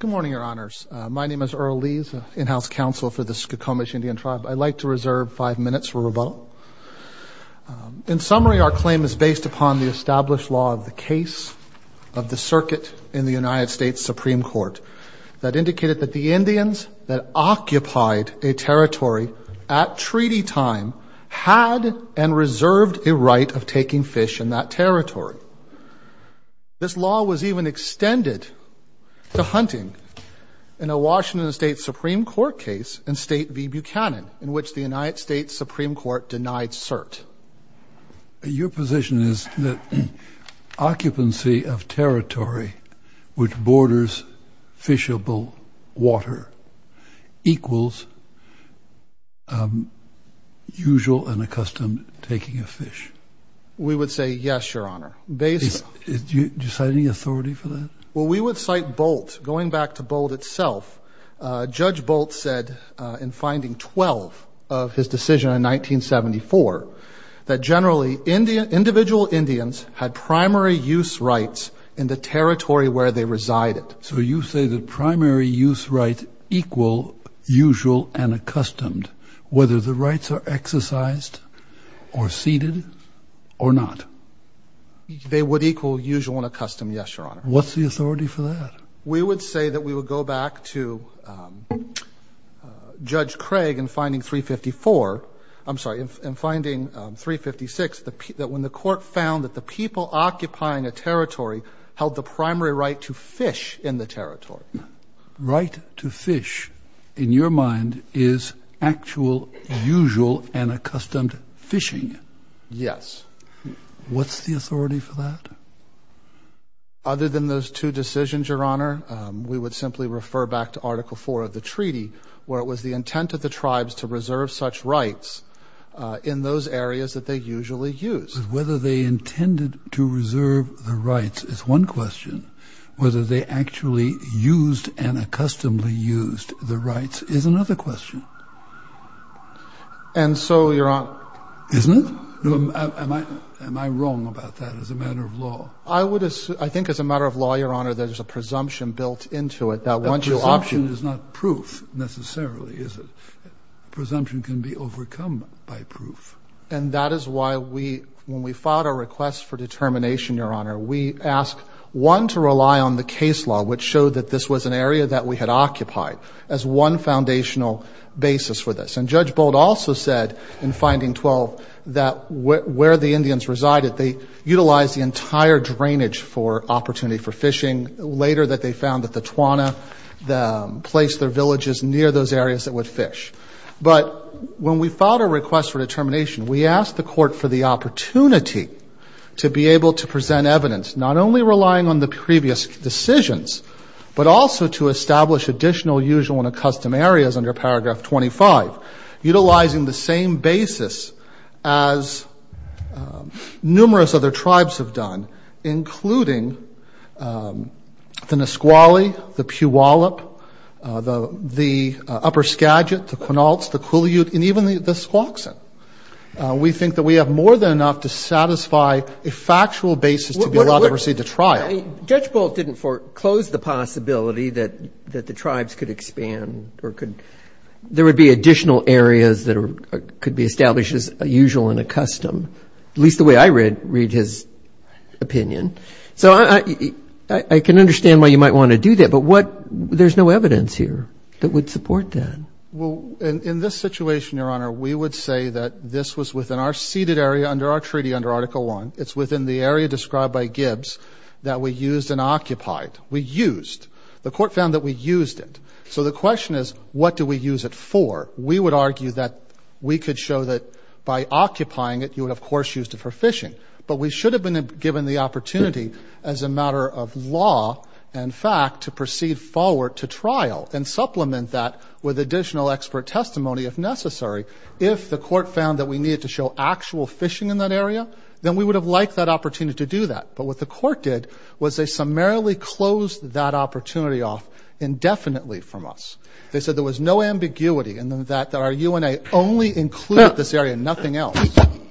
Good morning, your honors. My name is Earl Lees, in-house counsel for the Skokomish Indian Tribe. I'd like to reserve five minutes for rebuttal. In summary, our claim is based upon the established law of the case of the circuit in the United States Supreme Court that indicated that the Indians that occupied a territory at treaty time had and reserved a right of taking fish in that territory. This law was even extended to hunting in a Washington State Supreme Court case in State v. Buchanan in which the United States Supreme Court denied cert. Your position is that occupancy of territory which borders fishable water equals usual and accustomed taking of fish? We would say yes, your honor. Do you cite any authority for that? Well, we would cite Bolt. Going back to Bolt itself, Judge Bolt said in finding 12 of his decision in 1974 that generally individual Indians had primary use rights in the territory where they resided. So you say the primary use rights equal usual and They would equal usual and accustomed, yes, your honor. What's the authority for that? We would say that we would go back to Judge Craig in finding 354, I'm sorry, in finding 356 that when the court found that the people occupying a territory held the primary right to fish in the territory. Right to fish, in your mind, is actual, usual, and what's the authority for that? Other than those two decisions, your honor, we would simply refer back to article 4 of the treaty where it was the intent of the tribes to reserve such rights in those areas that they usually use. Whether they intended to reserve the rights is one question. Whether they actually used and other question. And so, your honor... Isn't it? Am I wrong about that as a matter of law? I would assume, I think as a matter of law, your honor, there's a presumption built into it. That presumption is not proof necessarily, is it? Presumption can be overcome by proof. And that is why we, when we filed our request for determination, your honor, we asked one to rely on the case law which showed that this was an foundational basis for this. And Judge Bold also said in finding 12 that where the Indians resided, they utilized the entire drainage for opportunity for fishing. Later that they found that the Tawana placed their villages near those areas that would fish. But when we filed our request for determination, we asked the court for the opportunity to be able to present evidence, not only relying on the previous decisions, but also to establish additional, usual, and custom areas under paragraph 25. Utilizing the same basis as numerous other tribes have done, including the Nisqually, the Puyallup, the Upper Skagit, the Quinaults, the Kuliute, and even the Squaxin. We think that we have more than enough to satisfy a factual basis to be allowed to proceed to trial. Judge Bold didn't foreclose the possibility that the tribes could expand or could, there would be additional areas that could be established as a usual and a custom, at least the way I read his opinion. So I can understand why you might want to do that. But what, there's no evidence here that would support that. Well, in this situation, your honor, we would say that this was within our ceded area under our treaty under Article I. It's within the area described by Gibbs that we used and occupied. We used. The court found that we used it. So the question is, what do we use it for? We would argue that we could show that by occupying it, you would, of course, use it for fishing. But we should have been given the opportunity as a matter of law and fact to proceed forward to trial and supplement that with additional expert testimony if necessary. If the court found that we needed to show actual fishing in that area. But what the court did was they summarily closed that opportunity off indefinitely from us. They said there was no ambiguity in the fact that our UNA only included this area and nothing else.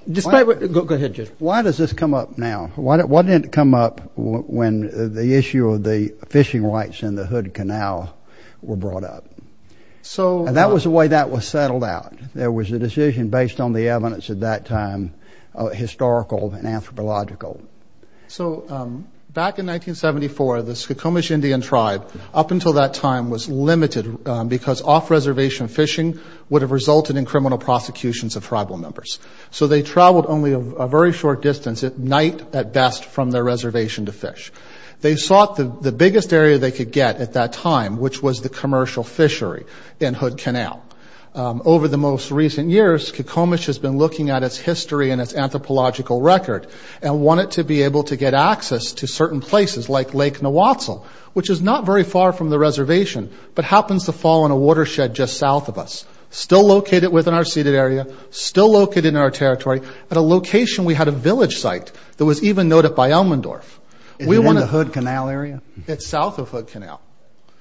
Despite what, go ahead, Judge. Why does this come up now? Why didn't it come up when the issue of the fishing rights in the Hood Canal were brought up? So... And that was the way that was settled out. There was a decision based on the evidence at that time, historical and anthropological. So back in 1974, the Skokomish Indian tribe, up until that time, was limited because off-reservation fishing would have resulted in criminal prosecutions of tribal members. So they traveled only a very short distance at night at best from their reservation to fish. They sought the biggest area they could get at that time, which was the commercial fishery in Hood Canal. Over the most recent years, Skokomish has been looking at its history and its development to be able to get access to certain places, like Lake Nawatsel, which is not very far from the reservation, but happens to fall in a watershed just south of us, still located within our ceded area, still located in our territory, at a location we had a village site that was even noted by Elmendorf. Is it in the Hood Canal area? It's south of Hood Canal.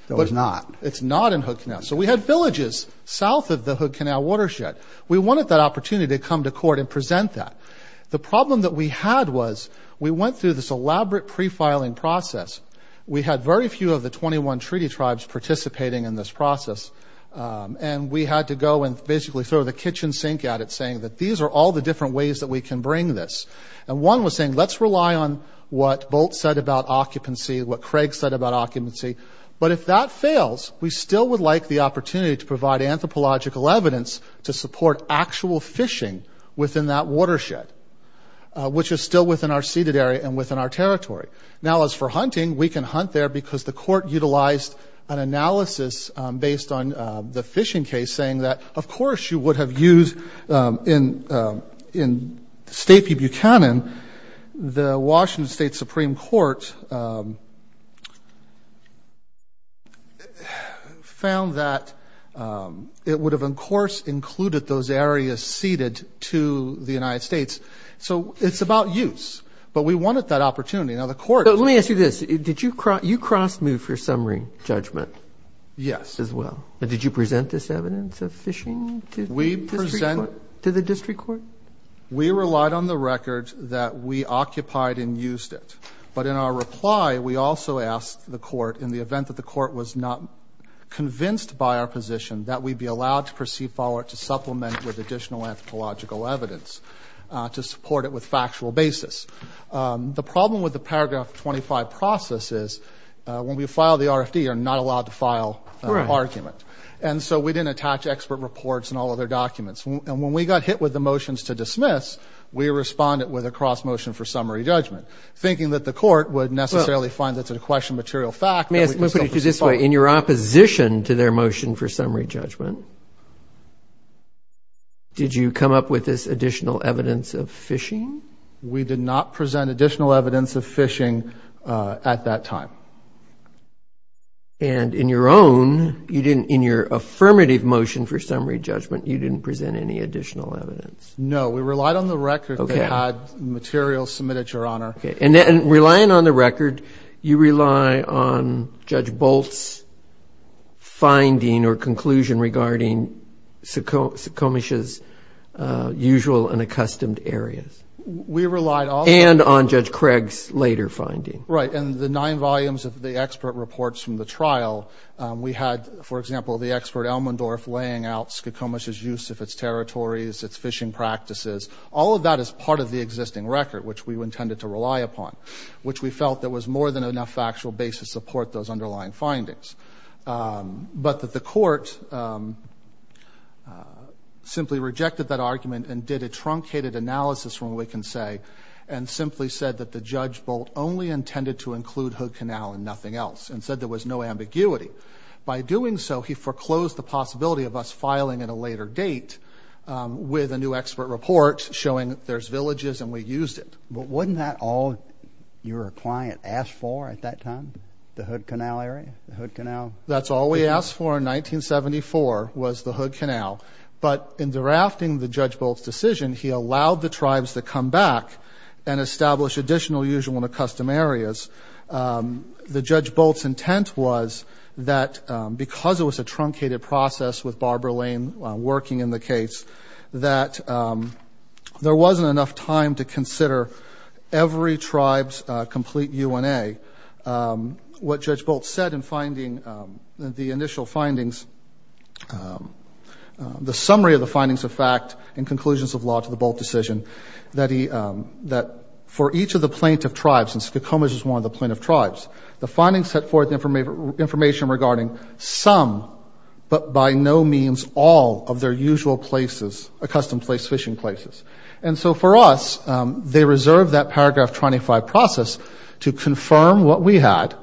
So it's not. It's not in Hood Canal. So we had villages south of the Hood Canal watershed. We wanted that opportunity to come to court and present that. The problem that we had was, we went through this elaborate pre-filing process. We had very few of the 21 treaty tribes participating in this process. And we had to go and basically throw the kitchen sink at it, saying that these are all the different ways that we can bring this. And one was saying, let's rely on what Bolt said about occupancy, what Craig said about occupancy. But if that fails, we still would like the opportunity to provide anthropological evidence to support actual fishing within that watershed, which is still within our ceded area and within our territory. Now as for hunting, we can hunt there because the court utilized an analysis based on the fishing case saying that, of course, you would have used, in State v. Buchanan, the Washington State Supreme Court found that it would have, of course, included those areas ceded to the United States. So it's about use. But we wanted that opportunity. Now the court... But let me ask you this. Did you cross move for summary judgment? Yes. As well. Did you present this evidence of fishing to the district court? We relied on the record that we occupied and used it. But in our reply, we also asked the court, in the event that the court was not convinced by our position, that we'd be allowed to proceed forward to supplement with additional anthropological evidence to support it with factual basis. The problem with the paragraph 25 process is, when we file the RFD, you're not allowed to file an argument. And so we didn't attach expert reports and all other documents. And when we got hit with the motions to dismiss, we responded with a cross motion for summary judgment, thinking that the court would necessarily find that's a question of material fact. Let me put it to you this way. In your opposition to their motion for summary judgment, did you come up with this additional evidence of fishing? We did not present additional evidence of fishing at that time. And in your own, you didn't, in your affirmative motion for summary judgment, you didn't present any additional evidence? No, we relied on the record that had material submitted, Your Honor. Okay. And then relying on the record, you rely on Judge Bolt's finding or conclusion regarding Skokomish's usual and accustomed areas. We relied on... And on Judge Craig's later finding. Right. And the nine volumes of the expert reports from the trial, we had, for example, the expert Elmendorf laying out Skokomish's use of its territories, its fishing practices. All of that is part of the existing record, which we intended to rely upon, which we felt that was more than enough factual base to support those underlying findings. But that the court simply rejected that argument and did a truncated analysis from what we can say, and simply said that the Judge Bolt only intended to include Hood Canal and nothing else, and said there was no ambiguity. By doing so, he foreclosed the possibility of us filing at a later date with a new expert report showing there's villages and we used it. But wasn't that all your client asked for at that time? The Hood Canal area? The Hood Canal... That's all we asked for in 1974 was the Hood Canal. But in drafting the Judge Bolt's decision, he allowed the tribes to come back and establish additional use in one of the custom areas. The Judge Bolt's intent was that because it was a truncated process with Barbara Lane working in the case, that there wasn't enough time to consider every tribe's complete UNA. What Judge Bolt said in finding the initial findings, the summary of the findings of fact and each of the plaintiff tribes, and Skokomas is one of the plaintiff tribes, the findings set forth information regarding some, but by no means all, of their usual places, a custom place, fishing places. And so for us, they reserved that paragraph 25 process to confirm what we had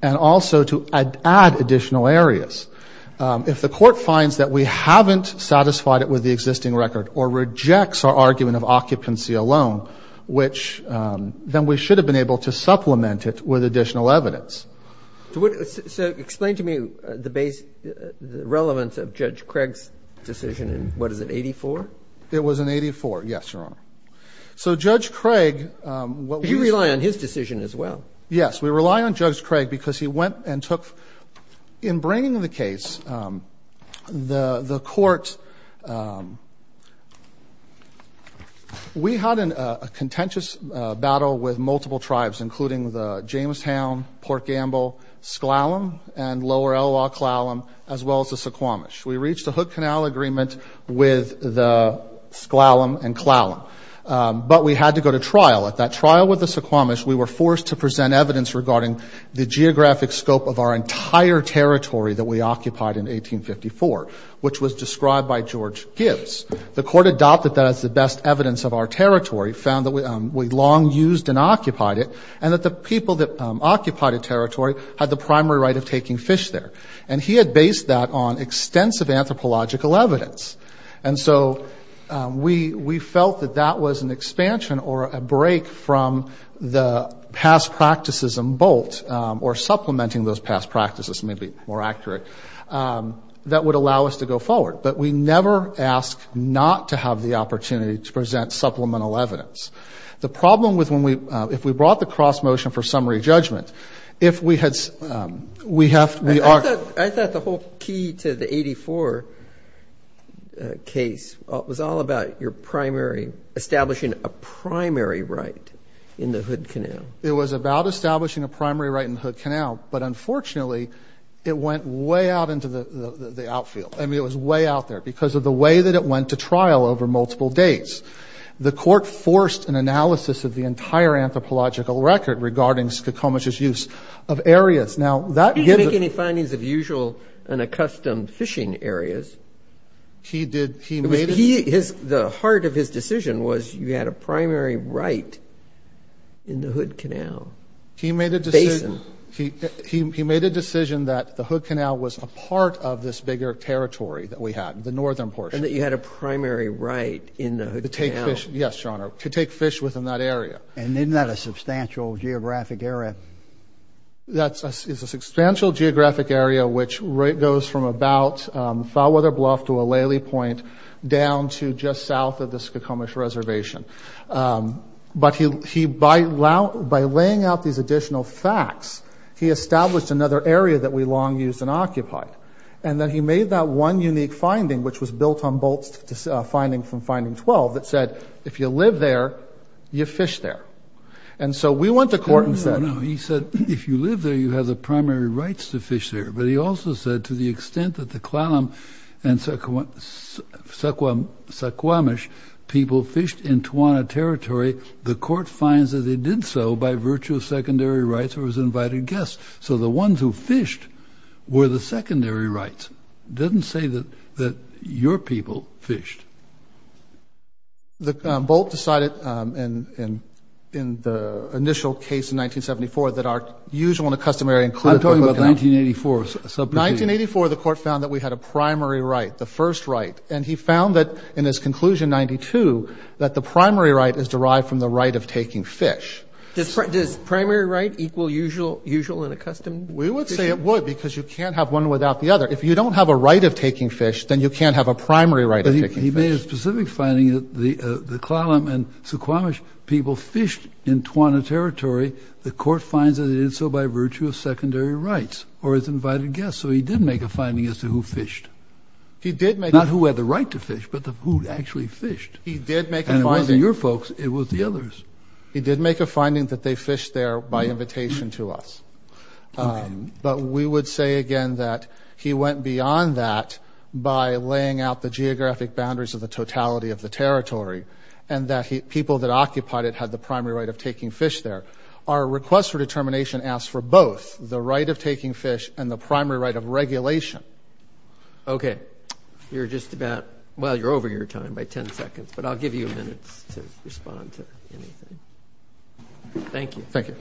and also to add additional areas. If the court finds that we haven't satisfied it with the existing record or rejects our argument of occupancy alone, which then we should have been able to supplement it with additional evidence. So explain to me the relevance of Judge Craig's decision in, what is it, 84? It was in 84, yes, Your Honor. So Judge Craig... But you rely on his decision as well. Yes. We rely on Judge Craig because he went and took, in bringing the case, the case to the Supreme Court. We had a contentious battle with multiple tribes, including the Jamestown, Port Gamble, Sklallam, and Lower Elwha-Klallam, as well as the Suquamish. We reached a hook canal agreement with the Sklallam and Klallam, but we had to go to trial. At that trial with the Suquamish, we were forced to present evidence regarding the geographic scope of our entire territory that we occupied in 1854, which was described by George Gibbs. The court adopted that as the best evidence of our territory, found that we long used and occupied it, and that the people that occupied a territory had the primary right of taking fish there. And he had based that on extensive anthropological evidence. And so we felt that that was an expansion or a break from the past practices in Bolt, or supplementing those past practices, to be more accurate, that would allow us to go forward. But we never asked not to have the opportunity to present supplemental evidence. The problem with when we, if we brought the cross motion for summary judgment, if we had, we have, we are. I thought the whole key to the 1884 case was all about your primary, establishing a primary right in the hood canal. It was about establishing a primary right in the hood canal. But unfortunately, it went way out into the outfield. I mean, it was way out there because of the way that it went to trial over multiple dates. The court forced an analysis of the entire anthropological record regarding Suquamish's use of areas. Now, that gave Did he make any findings of usual and accustomed fishing areas? He did, he made The heart of his decision was you had a primary right in the hood canal. Basin He made a decision that the hood canal was a part of this bigger territory that we had, the northern portion. And that you had a primary right in the hood canal. To take fish, yes, your honor, to take fish within that area. And isn't that a substantial geographic area? That is a substantial geographic area, which goes from about Foulweather Bluff to down to just south of the Suquamish reservation. But he, by laying out these additional facts, he established another area that we long used and occupied. And then he made that one unique finding, which was built on Bolt's finding from finding 12, that said, if you live there, you fish there. And so we went to court and said He said, if you live there, you have the primary rights to fish there. But he also said to the extent that the Clallam and Suquamish people fished in Tawana territory, the court finds that they did so by virtue of secondary rights or as invited guests. So the ones who fished were the secondary rights. It doesn't say that your people fished. Bolt decided in the initial case in 1974 that our usual and customary I'm talking about 1984. 1984, the court found that we had a primary right, the first right. And he found that in his conclusion, 92, that the primary right is derived from the right of taking fish. Does primary right equal usual and a custom? We would say it would, because you can't have one without the other. If you don't have a right of taking fish, then you can't have a primary right of taking fish. But he made a specific finding that the Clallam and Suquamish people fished in Tawana territory. The court finds that they did so by virtue of secondary rights or as invited guests. So he did make a finding as to who fished. Not who had the right to fish, but who actually fished. And it wasn't your folks. It was the others. He did make a finding that they fished there by invitation to us. But we would say again that he went beyond that by laying out the geographic boundaries of the totality of the territory and that people that occupied it had the primary right of taking fish there. Our request for determination asks for both the right of taking fish and the primary right of regulation. Okay. You're just about, well, you're over your time by 10 seconds. But I'll give you a minute to respond to anything. Thank you. Thank you.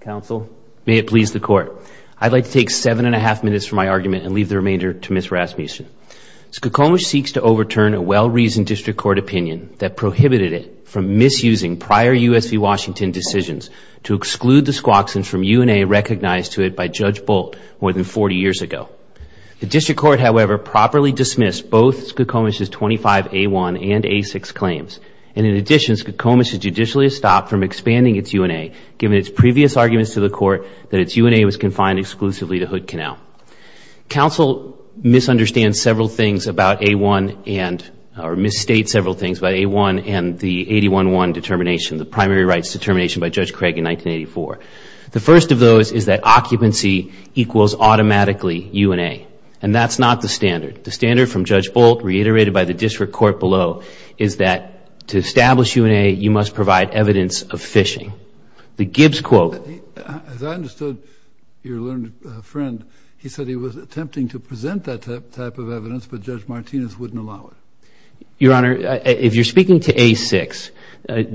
Counsel. May it please the Court. I'd like to take seven and a half minutes for my argument and leave the remainder to Ms. Rasmussen. Suquamish seeks to overturn a well-reasoned district court opinion that prohibited it from misusing prior U.S. v. Washington decisions to exclude the Squaxin from UNA recognized to it by Judge Bolt more than 40 years ago. The district court, however, properly dismissed both Suquamish's 25A1 and A6 claims. And in addition, Suquamish is judicially stopped from expanding its UNA given its previous arguments to the Court that its UNA was confined exclusively to Hood Canal. Counsel misunderstands several things about A1 and, or misstates several things about A1 and the 811 determination, the primary rights determination by Judge Craig in 1984. The first of those is that occupancy equals automatically UNA. And that's not the standard. The standard from Judge Bolt, reiterated by the district court below, is that to establish UNA, you must provide evidence of phishing. The Gibbs quote. As I understood your learned friend, he said he was attempting to present that type of evidence, but Judge Martinez wouldn't allow it. Your Honor, if you're speaking to A6,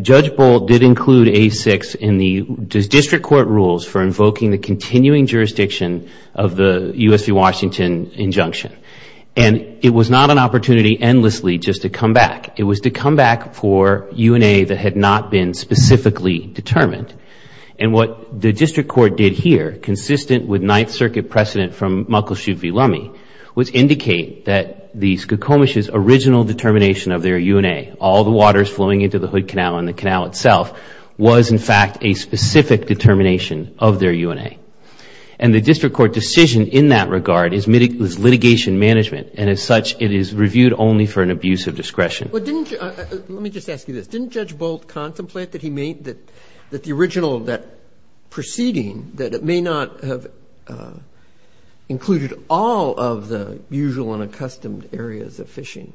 Judge Bolt did include A6 in the district court rules for invoking the continuing jurisdiction of the U.S. v. Washington injunction. And it was not an opportunity endlessly just to come back. It was to come back for UNA that had not been specifically determined. And what the district court did here, consistent with Ninth Circuit precedent from Muckleshoot v. Lummi, was indicate that the Suquamish's original determination of their UNA, all the waters flowing into the Hood Canal and the canal itself, was in fact a specific determination of their UNA. And the district court decision in that regard is litigation management. And as such, it is reviewed only for an abuse of discretion. Let me just ask you this. Didn't Judge Bolt contemplate that the original proceeding, that it may not have included all of the usual and accustomed areas of phishing,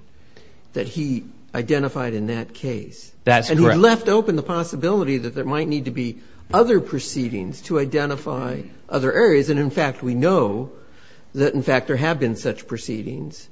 that he identified in that case? That's correct. He left open the possibility that there might need to be other proceedings to identify other areas. And, in fact, we know that, in fact, there have been such proceedings.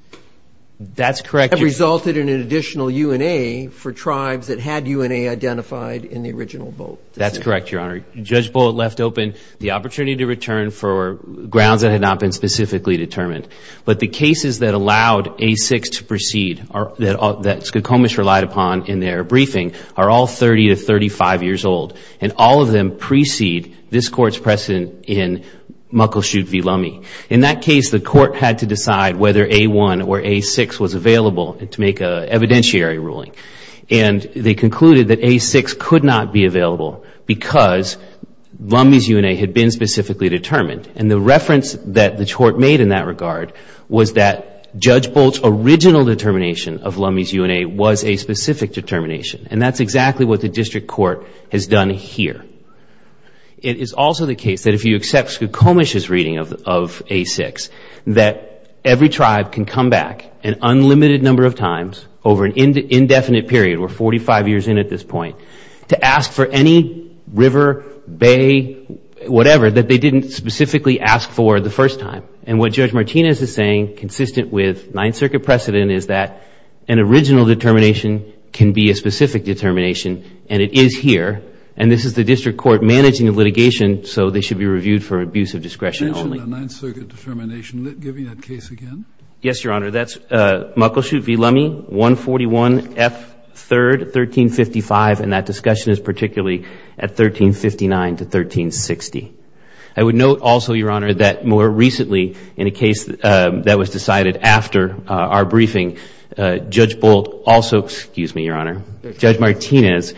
That's correct. That resulted in an additional UNA for tribes that had UNA identified in the original vote. That's correct, Your Honor. Judge Bolt left open the opportunity to return for grounds that had not been specifically determined. But the cases that allowed A6 to proceed that Suquamish relied upon in their briefing are all 30 to 35 years old. And all of them precede this Court's precedent in Muckleshoot v. Lummi. In that case, the Court had to decide whether A1 or A6 was available to make an evidentiary ruling. And they concluded that A6 could not be available because Lummi's UNA had been specifically determined. And the reference that the Court made in that regard was that Judge Bolt's original determination of Lummi's UNA was a specific determination. And that's exactly what the District Court has done here. It is also the case that if you accept Suquamish's reading of A6, that every tribe can come back an unlimited number of times over an indefinite period, we're 45 years in at this point, to ask for any river, bay, whatever, that they didn't specifically ask for the first time. And what Judge Martinez is saying, consistent with Ninth Circuit precedent, is that an original determination can be a specific determination. And it is here. And this is the District Court managing the litigation, so they should be reviewed for abuse of discretion only. You mentioned a Ninth Circuit determination. Give me that case again. Yes, Your Honor. That's Muckleshoot v. Lummi, 141 F. 3rd, 1355. And that discussion is particularly at 1359 to 1360. I would note also, Your Honor, that more recently in a case that was decided after our briefing, Judge Bolt also, excuse me, Your Honor, Judge Martinez,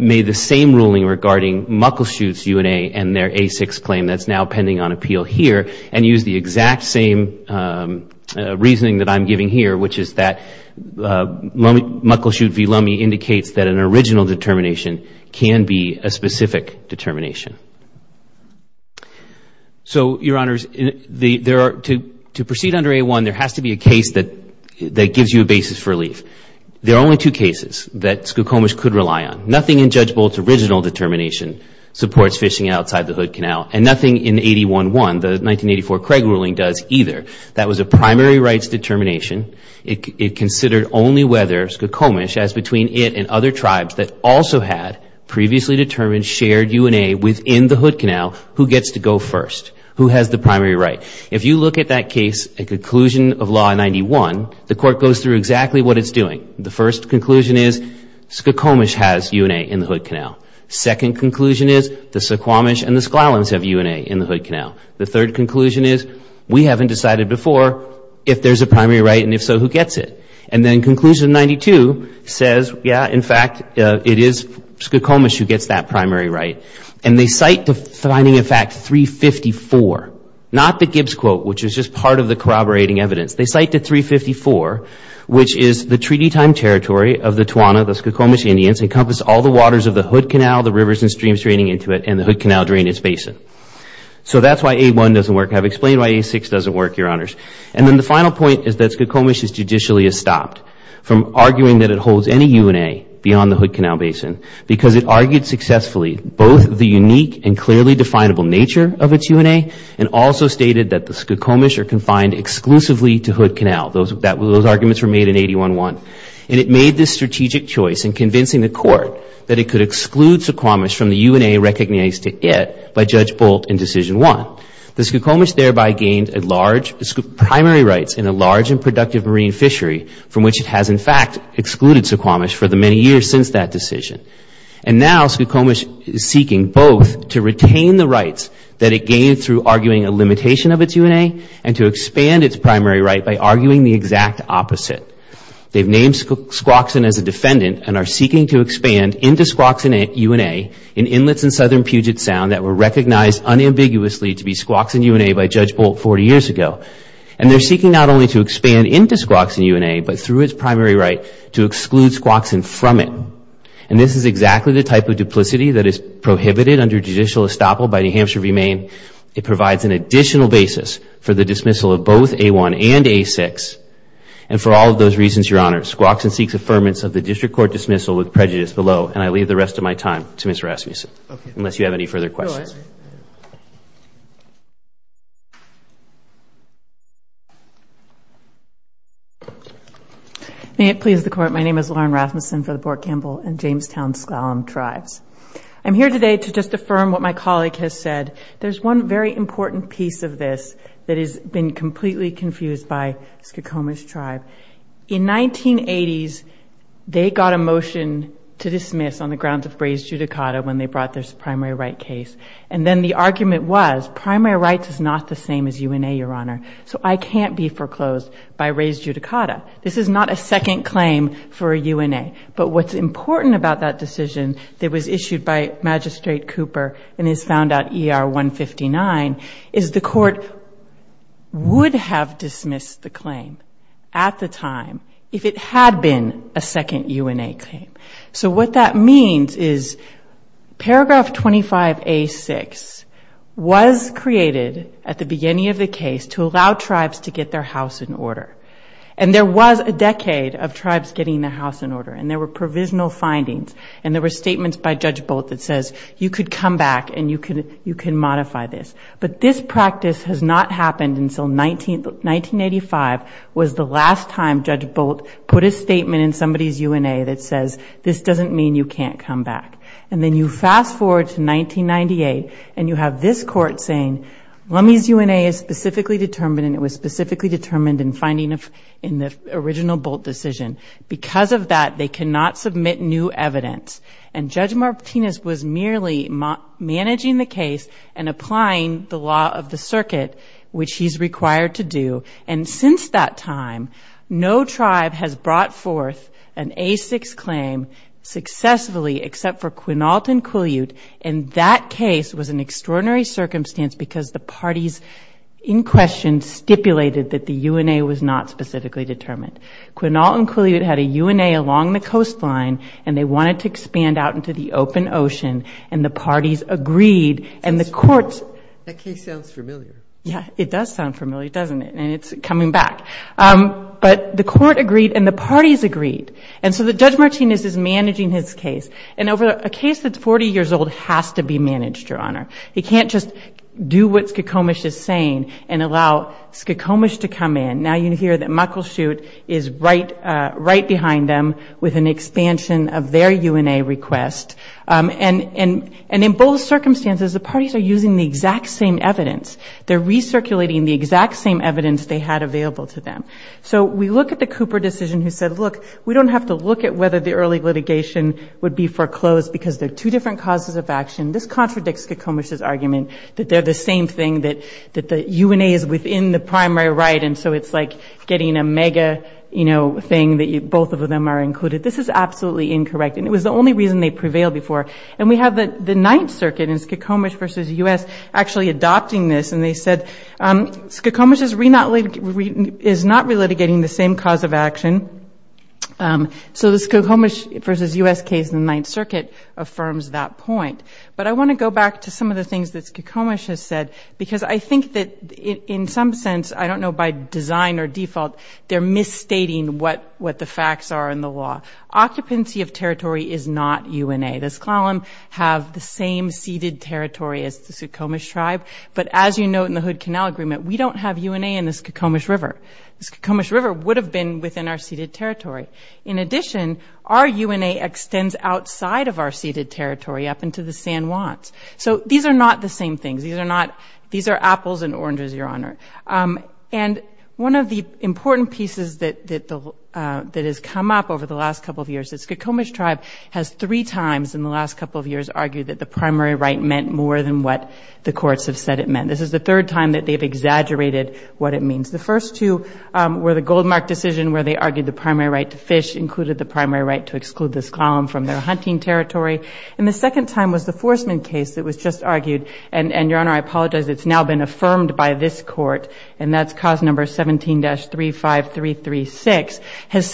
made the same ruling regarding Muckleshoot's UNA and their A6 claim that's now pending on appeal here and used the exact same reasoning that I'm giving here, which is that Muckleshoot v. Lummi indicates that an original determination can be a specific determination. So, Your Honors, to proceed under A1, there has to be a case that gives you a basis for relief. There are only two cases that Skokomish could rely on. Nothing in Judge Bolt's original determination supports fishing outside the Hood Canal, and nothing in 81-1, the 1984 Craig ruling, does either. That was a primary rights determination. It considered only whether Skokomish, as between it and other tribes that also had previously determined shared UNA within the Hood Canal, who gets to go first, who has the primary right. If you look at that case, a conclusion of Law 91, the Court goes through exactly what it's doing. The first conclusion is Skokomish has UNA in the Hood Canal. Second conclusion is the Suquamish and the Sklallams have UNA in the Hood Canal. The third conclusion is we haven't decided before if there's a primary right, and if so, who gets it. And then conclusion 92 says, yeah, in fact, it is Skokomish who gets that primary right. And they cite defining a fact 354, not the Gibbs quote, which is just part of the corroborating evidence. They cite the 354, which is the treaty time territory of the Tawana, the Skokomish Indians, encompass all the waters of the Hood Canal, the rivers and streams draining into it, and the Hood Canal drainage basin. So that's why A1 doesn't work. I've explained why A6 doesn't work, Your Honors. And then the final point is that Skokomish is judicially stopped from arguing that it holds any UNA beyond the Hood Canal basin because it argued successfully both the unique and clearly definable nature of its UNA and also stated that the Skokomish are confined exclusively to Hood Canal. Those arguments were made in 81-1. And it made this strategic choice in convincing the Court that it could exclude Suquamish from the UNA recognized to it by Judge Bolt in Decision 1. The Skokomish thereby gained a large primary rights in a large and productive marine fishery from which it has, in fact, excluded Suquamish for the many years since that decision. And now Skokomish is seeking both to retain the rights that it gained through arguing a limitation of its UNA and to expand its primary right by arguing the exact opposite. They've named Squaxin as a defendant and are seeking to expand into Squaxin UNA in inlets in southern Puget Sound that were recognized unambiguously to be Squaxin UNA by Judge Bolt 40 years ago. And they're seeking not only to expand into Squaxin UNA but through its primary right to exclude Squaxin from it. And this is exactly the type of duplicity that is prohibited under judicial estoppel by New Hampshire v. Maine. It provides an additional basis for the dismissal of both A1 and A6. And for all of those reasons, Your Honor, Squaxin seeks affirmance of the district court dismissal with prejudice below. And I leave the rest of my time to Mr. Rasmussen, unless you have any further questions. Go ahead. May it please the Court, my name is Lauren Rasmussen for the Port Campbell and Jamestown S'Klallam Tribes. I'm here today to just affirm what my colleague has said. There's one very important piece of this that has been completely confused by Skokoma's tribe. In 1980s, they got a motion to dismiss on the grounds of raised judicata when they brought this primary right case. And then the argument was primary rights is not the same as UNA, Your Honor, so I can't be foreclosed by raised judicata. This is not a second claim for UNA. But what's important about that decision that was issued by Magistrate Cooper and is found out ER 159, is the court would have dismissed the claim at the time if it had been a second UNA claim. So what that means is paragraph 25A6 was created at the beginning of the case to allow tribes to get their house in order. And there was a decade of tribes getting their house in order and there were provisional findings. And there were statements by Judge Bolt that says you could come back and you can modify this. But this practice has not happened until 1985 was the last time Judge Bolt put a statement in somebody's UNA that says this doesn't mean you can't come back. And then you fast-forward to 1998 and you have this court saying Lummi's UNA is specifically determined and it was specifically determined in finding a house in order. And it was specifically determined in the original Bolt decision. Because of that, they cannot submit new evidence. And Judge Martinez was merely managing the case and applying the law of the circuit, which he's required to do. And since that time, no tribe has brought forth an A6 claim successfully except for Quinault and Quileute. And that case was an extraordinary circumstance because the parties in question stipulated that the UNA was not sufficient. It was not specifically determined. Quinault and Quileute had a UNA along the coastline and they wanted to expand out into the open ocean and the parties agreed and the courts... That case sounds familiar. Yeah, it does sound familiar, doesn't it? And it's coming back. But the court agreed and the parties agreed. And so Judge Martinez is managing his case and a case that's 40 years old has to be managed, Your Honor. He can't just do what Skokomish is saying and allow Skokomish to come in. Now you hear that Muckleshoot is right behind them with an expansion of their UNA request. And in both circumstances, the parties are using the exact same evidence. They're recirculating the exact same evidence they had available to them. So we look at the Cooper decision who said, look, we don't have to look at whether the early litigation would be foreclosed because they're two different causes of action. This contradicts Skokomish's argument that they're the same thing, that the UNA is within the primary right. And so it's like getting a mega, you know, thing that both of them are included. This is absolutely incorrect. And it was the only reason they prevailed before. And we have the Ninth Circuit in Skokomish v. U.S. actually adopting this. They're not relitigating the same cause of action. So the Skokomish v. U.S. case in the Ninth Circuit affirms that point. But I want to go back to some of the things that Skokomish has said, because I think that in some sense, I don't know by design or default, they're misstating what the facts are in the law. Occupancy of territory is not UNA. The Sklallam have the same ceded territory as the Skokomish tribe. But as you note in the Hood Canal Agreement, we don't have UNA in the Skokomish River. The Skokomish River would have been within our ceded territory. In addition, our UNA extends outside of our ceded territory up into the San Juans. So these are not the same things. These are apples and oranges, Your Honor. And one of the important pieces that has come up over the last couple of years is Skokomish tribe has three times in the last couple of years argued that the primary right meant more than what the courts have said it meant. This is the third time that they've exaggerated what it means. The first two were the Goldmark decision where they argued the primary right to fish included the primary right to exclude the Sklallam from their hunting territory. And the second time was the Forsman case that was just argued. And, Your Honor, I apologize, it's now been affirmed by this Court, and that's cause number 17-35336, has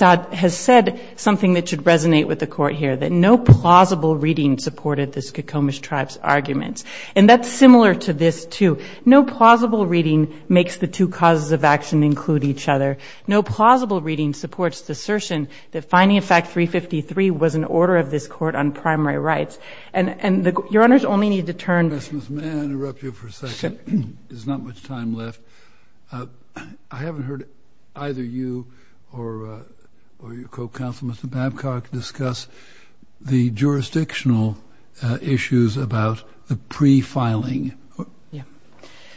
said something that should resonate with the Court here, that no plausible reading supported the Skokomish tribe's arguments. And that's similar to this, too. No plausible reading makes the two causes of action include each other. No plausible reading supports the assertion that finding a fact 353 was an order of this Court on primary rights. And Your Honor's only need to turn to... I haven't heard either you or your co-counsel, Mr. Babcock, discuss the jurisdictional issues about the pre-filing.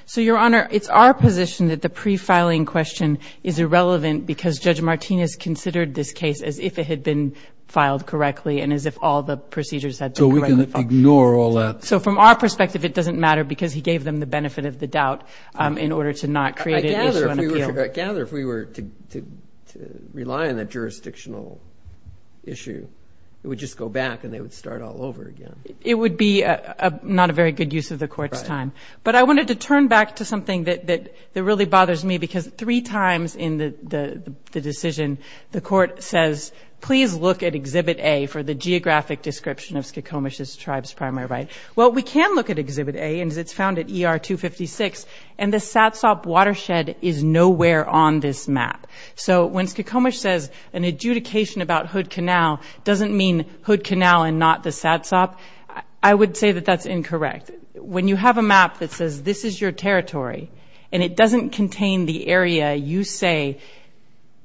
So, Your Honor, it's our position that the pre-filing question is irrelevant because Judge Martinez considered this case as if it had been filed correctly and as if all the procedures had been correctly followed. So we can ignore all that? So from our perspective, it doesn't matter because he gave them the benefit of the doubt in order to not create an issue on appeal. I gather if we were to rely on that jurisdictional issue, it would just go back and they would start all over again. But I wanted to turn back to something that really bothers me, because three times in the decision, the Court says, please look at Exhibit A for the geographic description of Skokomish's tribe's primary right. Well, we can look at Exhibit A, and it's found at ER 256, and the Satsop watershed is nowhere on this map. So when Skokomish says an adjudication about Hood Canal doesn't mean Hood Canal and not the Satsop, I would say that that's incorrect. When you have a map that says this is your territory, and it doesn't contain the area you say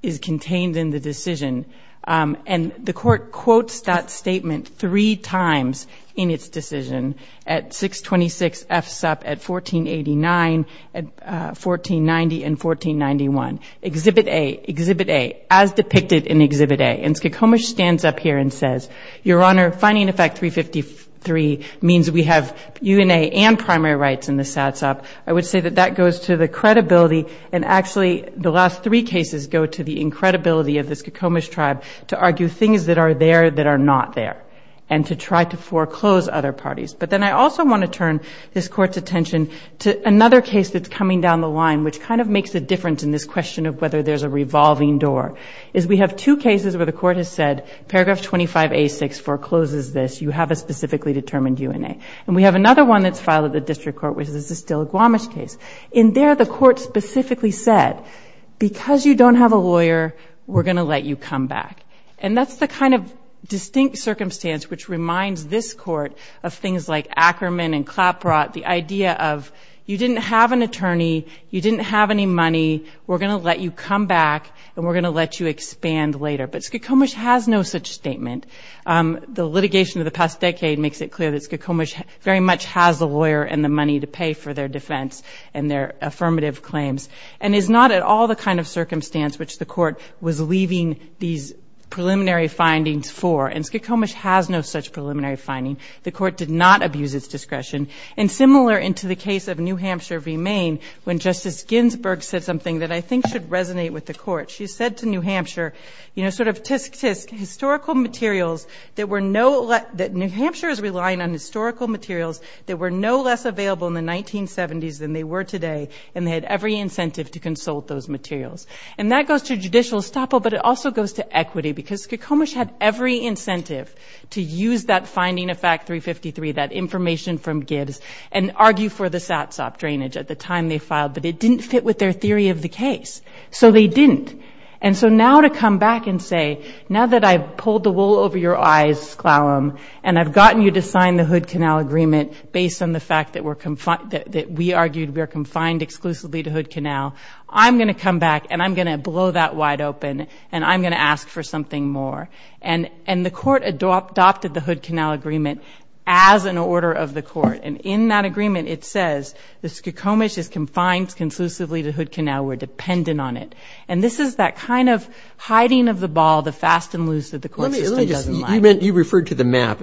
is contained in the decision, and the Court quotes that statement three times in its decision, at 626 F Sup, at 1489, at 1490, and 1491. Exhibit A, Exhibit A, as depicted in Exhibit A, and Skokomish stands up here and says, Your Honor, finding Effect 353 means we have UNA and primary rights in the Satsop. I would say that that goes to the credibility, and actually the last three cases go to the incredibility of the Skokomish tribe to argue things that are there that are not there, and to try to foreclose other parties. But then I also want to turn this Court's attention to another case that's coming down the line, which kind of makes a difference in this question of whether there's a revolving door, is we have two cases where the Court has said, if Paragraph 25A64 closes this, you have a specifically determined UNA. And we have another one that's filed at the District Court, which is the Stiligwamish case. In there, the Court specifically said, Because you don't have a lawyer, we're going to let you come back. And that's the kind of distinct circumstance which reminds this Court of things like Ackerman and Clapprott, the idea of you didn't have an attorney, you didn't have any money, we're going to let you come back, and we're going to let you expand later. But Skokomish has no such statement. The litigation of the past decade makes it clear that Skokomish very much has a lawyer and the money to pay for their defense and their affirmative claims, and is not at all the kind of circumstance which the Court was leaving these preliminary findings for. And Skokomish has no such preliminary finding. The Court did not abuse its discretion. And similar into the case of New Hampshire v. Maine, when Justice Ginsburg said something that I think should resonate with the Court. She said to New Hampshire, you know, sort of tsk, tsk, historical materials that were no less, that New Hampshire is relying on historical materials that were no less available in the 1970s than they were today, and they had every incentive to consult those materials. And that goes to judicial estoppel, but it also goes to equity, because Skokomish had every incentive to use that finding of Fact 353, that information from Gibbs, and argue for the SATSOP drainage at the time they filed, but it didn't fit with their theory of the case. So they didn't. And so now to come back and say, now that I've pulled the wool over your eyes, Clallam, and I've gotten you to sign the Hood Canal Agreement based on the fact that we're, that we argued we are confined exclusively to Hood Canal, I'm going to come back and I'm going to blow that wide open, and I'm going to ask for something more. And the Court adopted the Hood Canal Agreement as an order of the Court. And in that agreement it says that Skokomish is confined conclusively to Hood Canal, we're dependent on it. And this is that kind of hiding of the ball, the fast and loose that the Court system doesn't like. You referred to the map.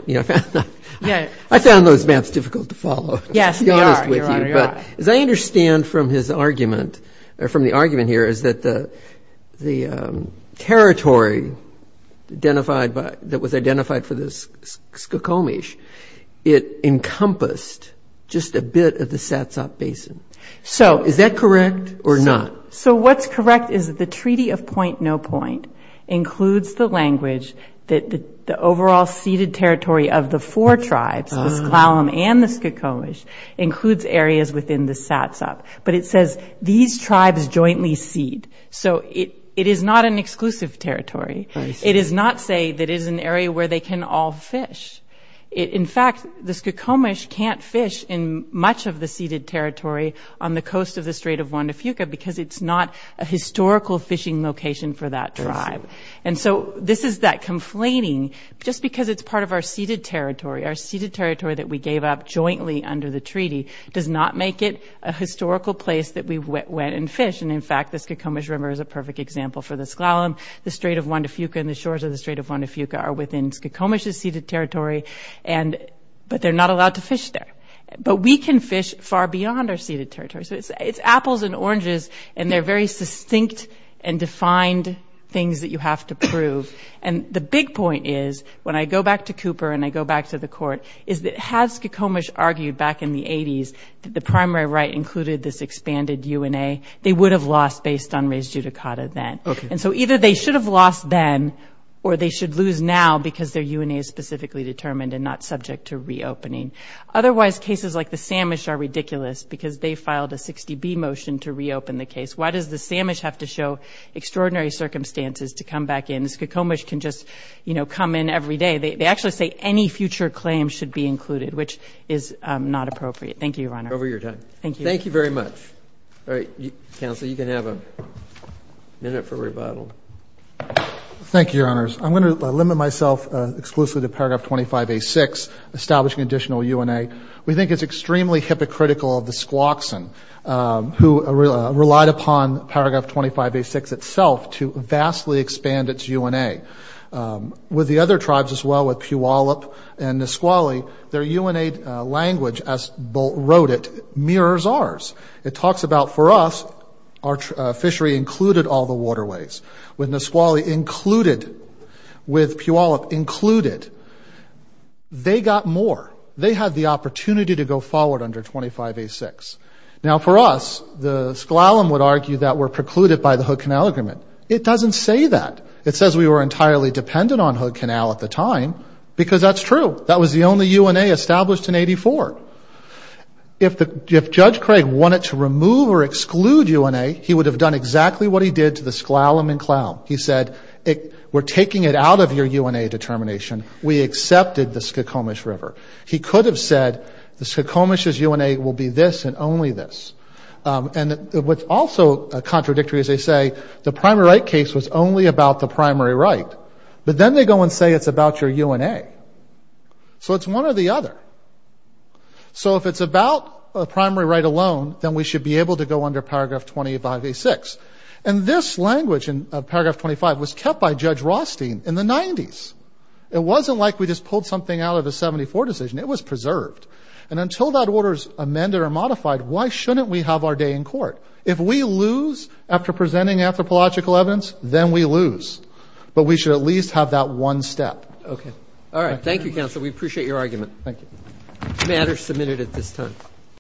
I found those maps difficult to follow, to be honest with you. But as I understand from his argument, or from the argument here, is that the territory that was identified for the Skokomish, it encompassed just a bit of the Satsop Basin. Is that correct or not? So what's correct is that the Treaty of Point-No-Point includes the language that the overall ceded territory of the four tribes, the Sklallam and the Skokomish, includes areas within the Satsop. But it says these tribes jointly cede. So it is not an exclusive territory. It does not say that it is an area where they can all fish. In fact, the Skokomish can't fish in much of the ceded territory on the coast of the Strait of Juan de Fuca because it's not a historical fishing location for that tribe. And so this is that conflating, just because it's part of our ceded territory, our ceded territory that we gave up jointly under the treaty, does not make it a historical place that we went and fished. And in fact, the Skokomish River is a perfect example for the Sklallam. The Strait of Juan de Fuca and the shores of the Strait of Juan de Fuca are within Skokomish's ceded territory, but they're not allowed to fish there. But we can fish far beyond our ceded territory. So it's apples and oranges, and they're very succinct and defined things that you have to prove. And the big point is, when I go back to Cooper and I go back to the court, is that had Skokomish argued back in the 80s that the primary right included this expanded UNA, they would have lost based on res judicata then. And so either they should have lost then or they should lose now because their UNA is specifically determined and not subject to reopening. Otherwise, cases like the Samish are ridiculous because they filed a 60B motion to reopen the case. Why does the Samish have to show extraordinary circumstances to come back in? Skokomish can just, you know, come in every day. They actually say any future claim should be included, which is not appropriate. Thank you, Your Honor. Thank you. Thank you very much. All right. Counsel, you can have a minute for rebuttal. Thank you, Your Honors. I'm going to limit myself exclusively to Paragraph 25A6, establishing additional UNA. We think it's extremely hypocritical of the Squawkson, who relied upon Paragraph 25A6 itself to vastly expand its UNA. With the other tribes as well, with Puyallup and Nisqually, their UNA language, as Bolt wrote it, mirrors ours. It talks about, for us, our fishery included all the waterways. With Nisqually included, with Puyallup included, they got more. They had the opportunity to go forward under 25A6. Now, for us, the S'Klallam would argue that we're precluded by the Hood Canal Agreement. It doesn't say that. It says we were entirely dependent on Hood Canal at the time because that's true. That was the only UNA established in 1984. If Judge Craig wanted to remove or exclude UNA, he would have done exactly what he did to the S'Klallam and Klallam. He said, we're taking it out of your UNA determination. We accepted the Skokomish River. He could have said, the Skokomish's UNA will be this and only this. And what's also contradictory, as they say, the primary right case was only about the primary right. But then they go and say it's about your UNA. So it's one or the other. So if it's about the primary right alone, then we should be able to go under Paragraph 25A6. And this language in Paragraph 25 was kept by Judge Rothstein in the 90s. It wasn't like we just pulled something out of a 74 decision. It was preserved. And until that order is amended or modified, why shouldn't we have our day in court? If we lose after presenting anthropological evidence, then we lose. But we should at least have that one step. Okay. All right. Thank you, Counsel. We appreciate your argument. Thank you. The matter is submitted at this time.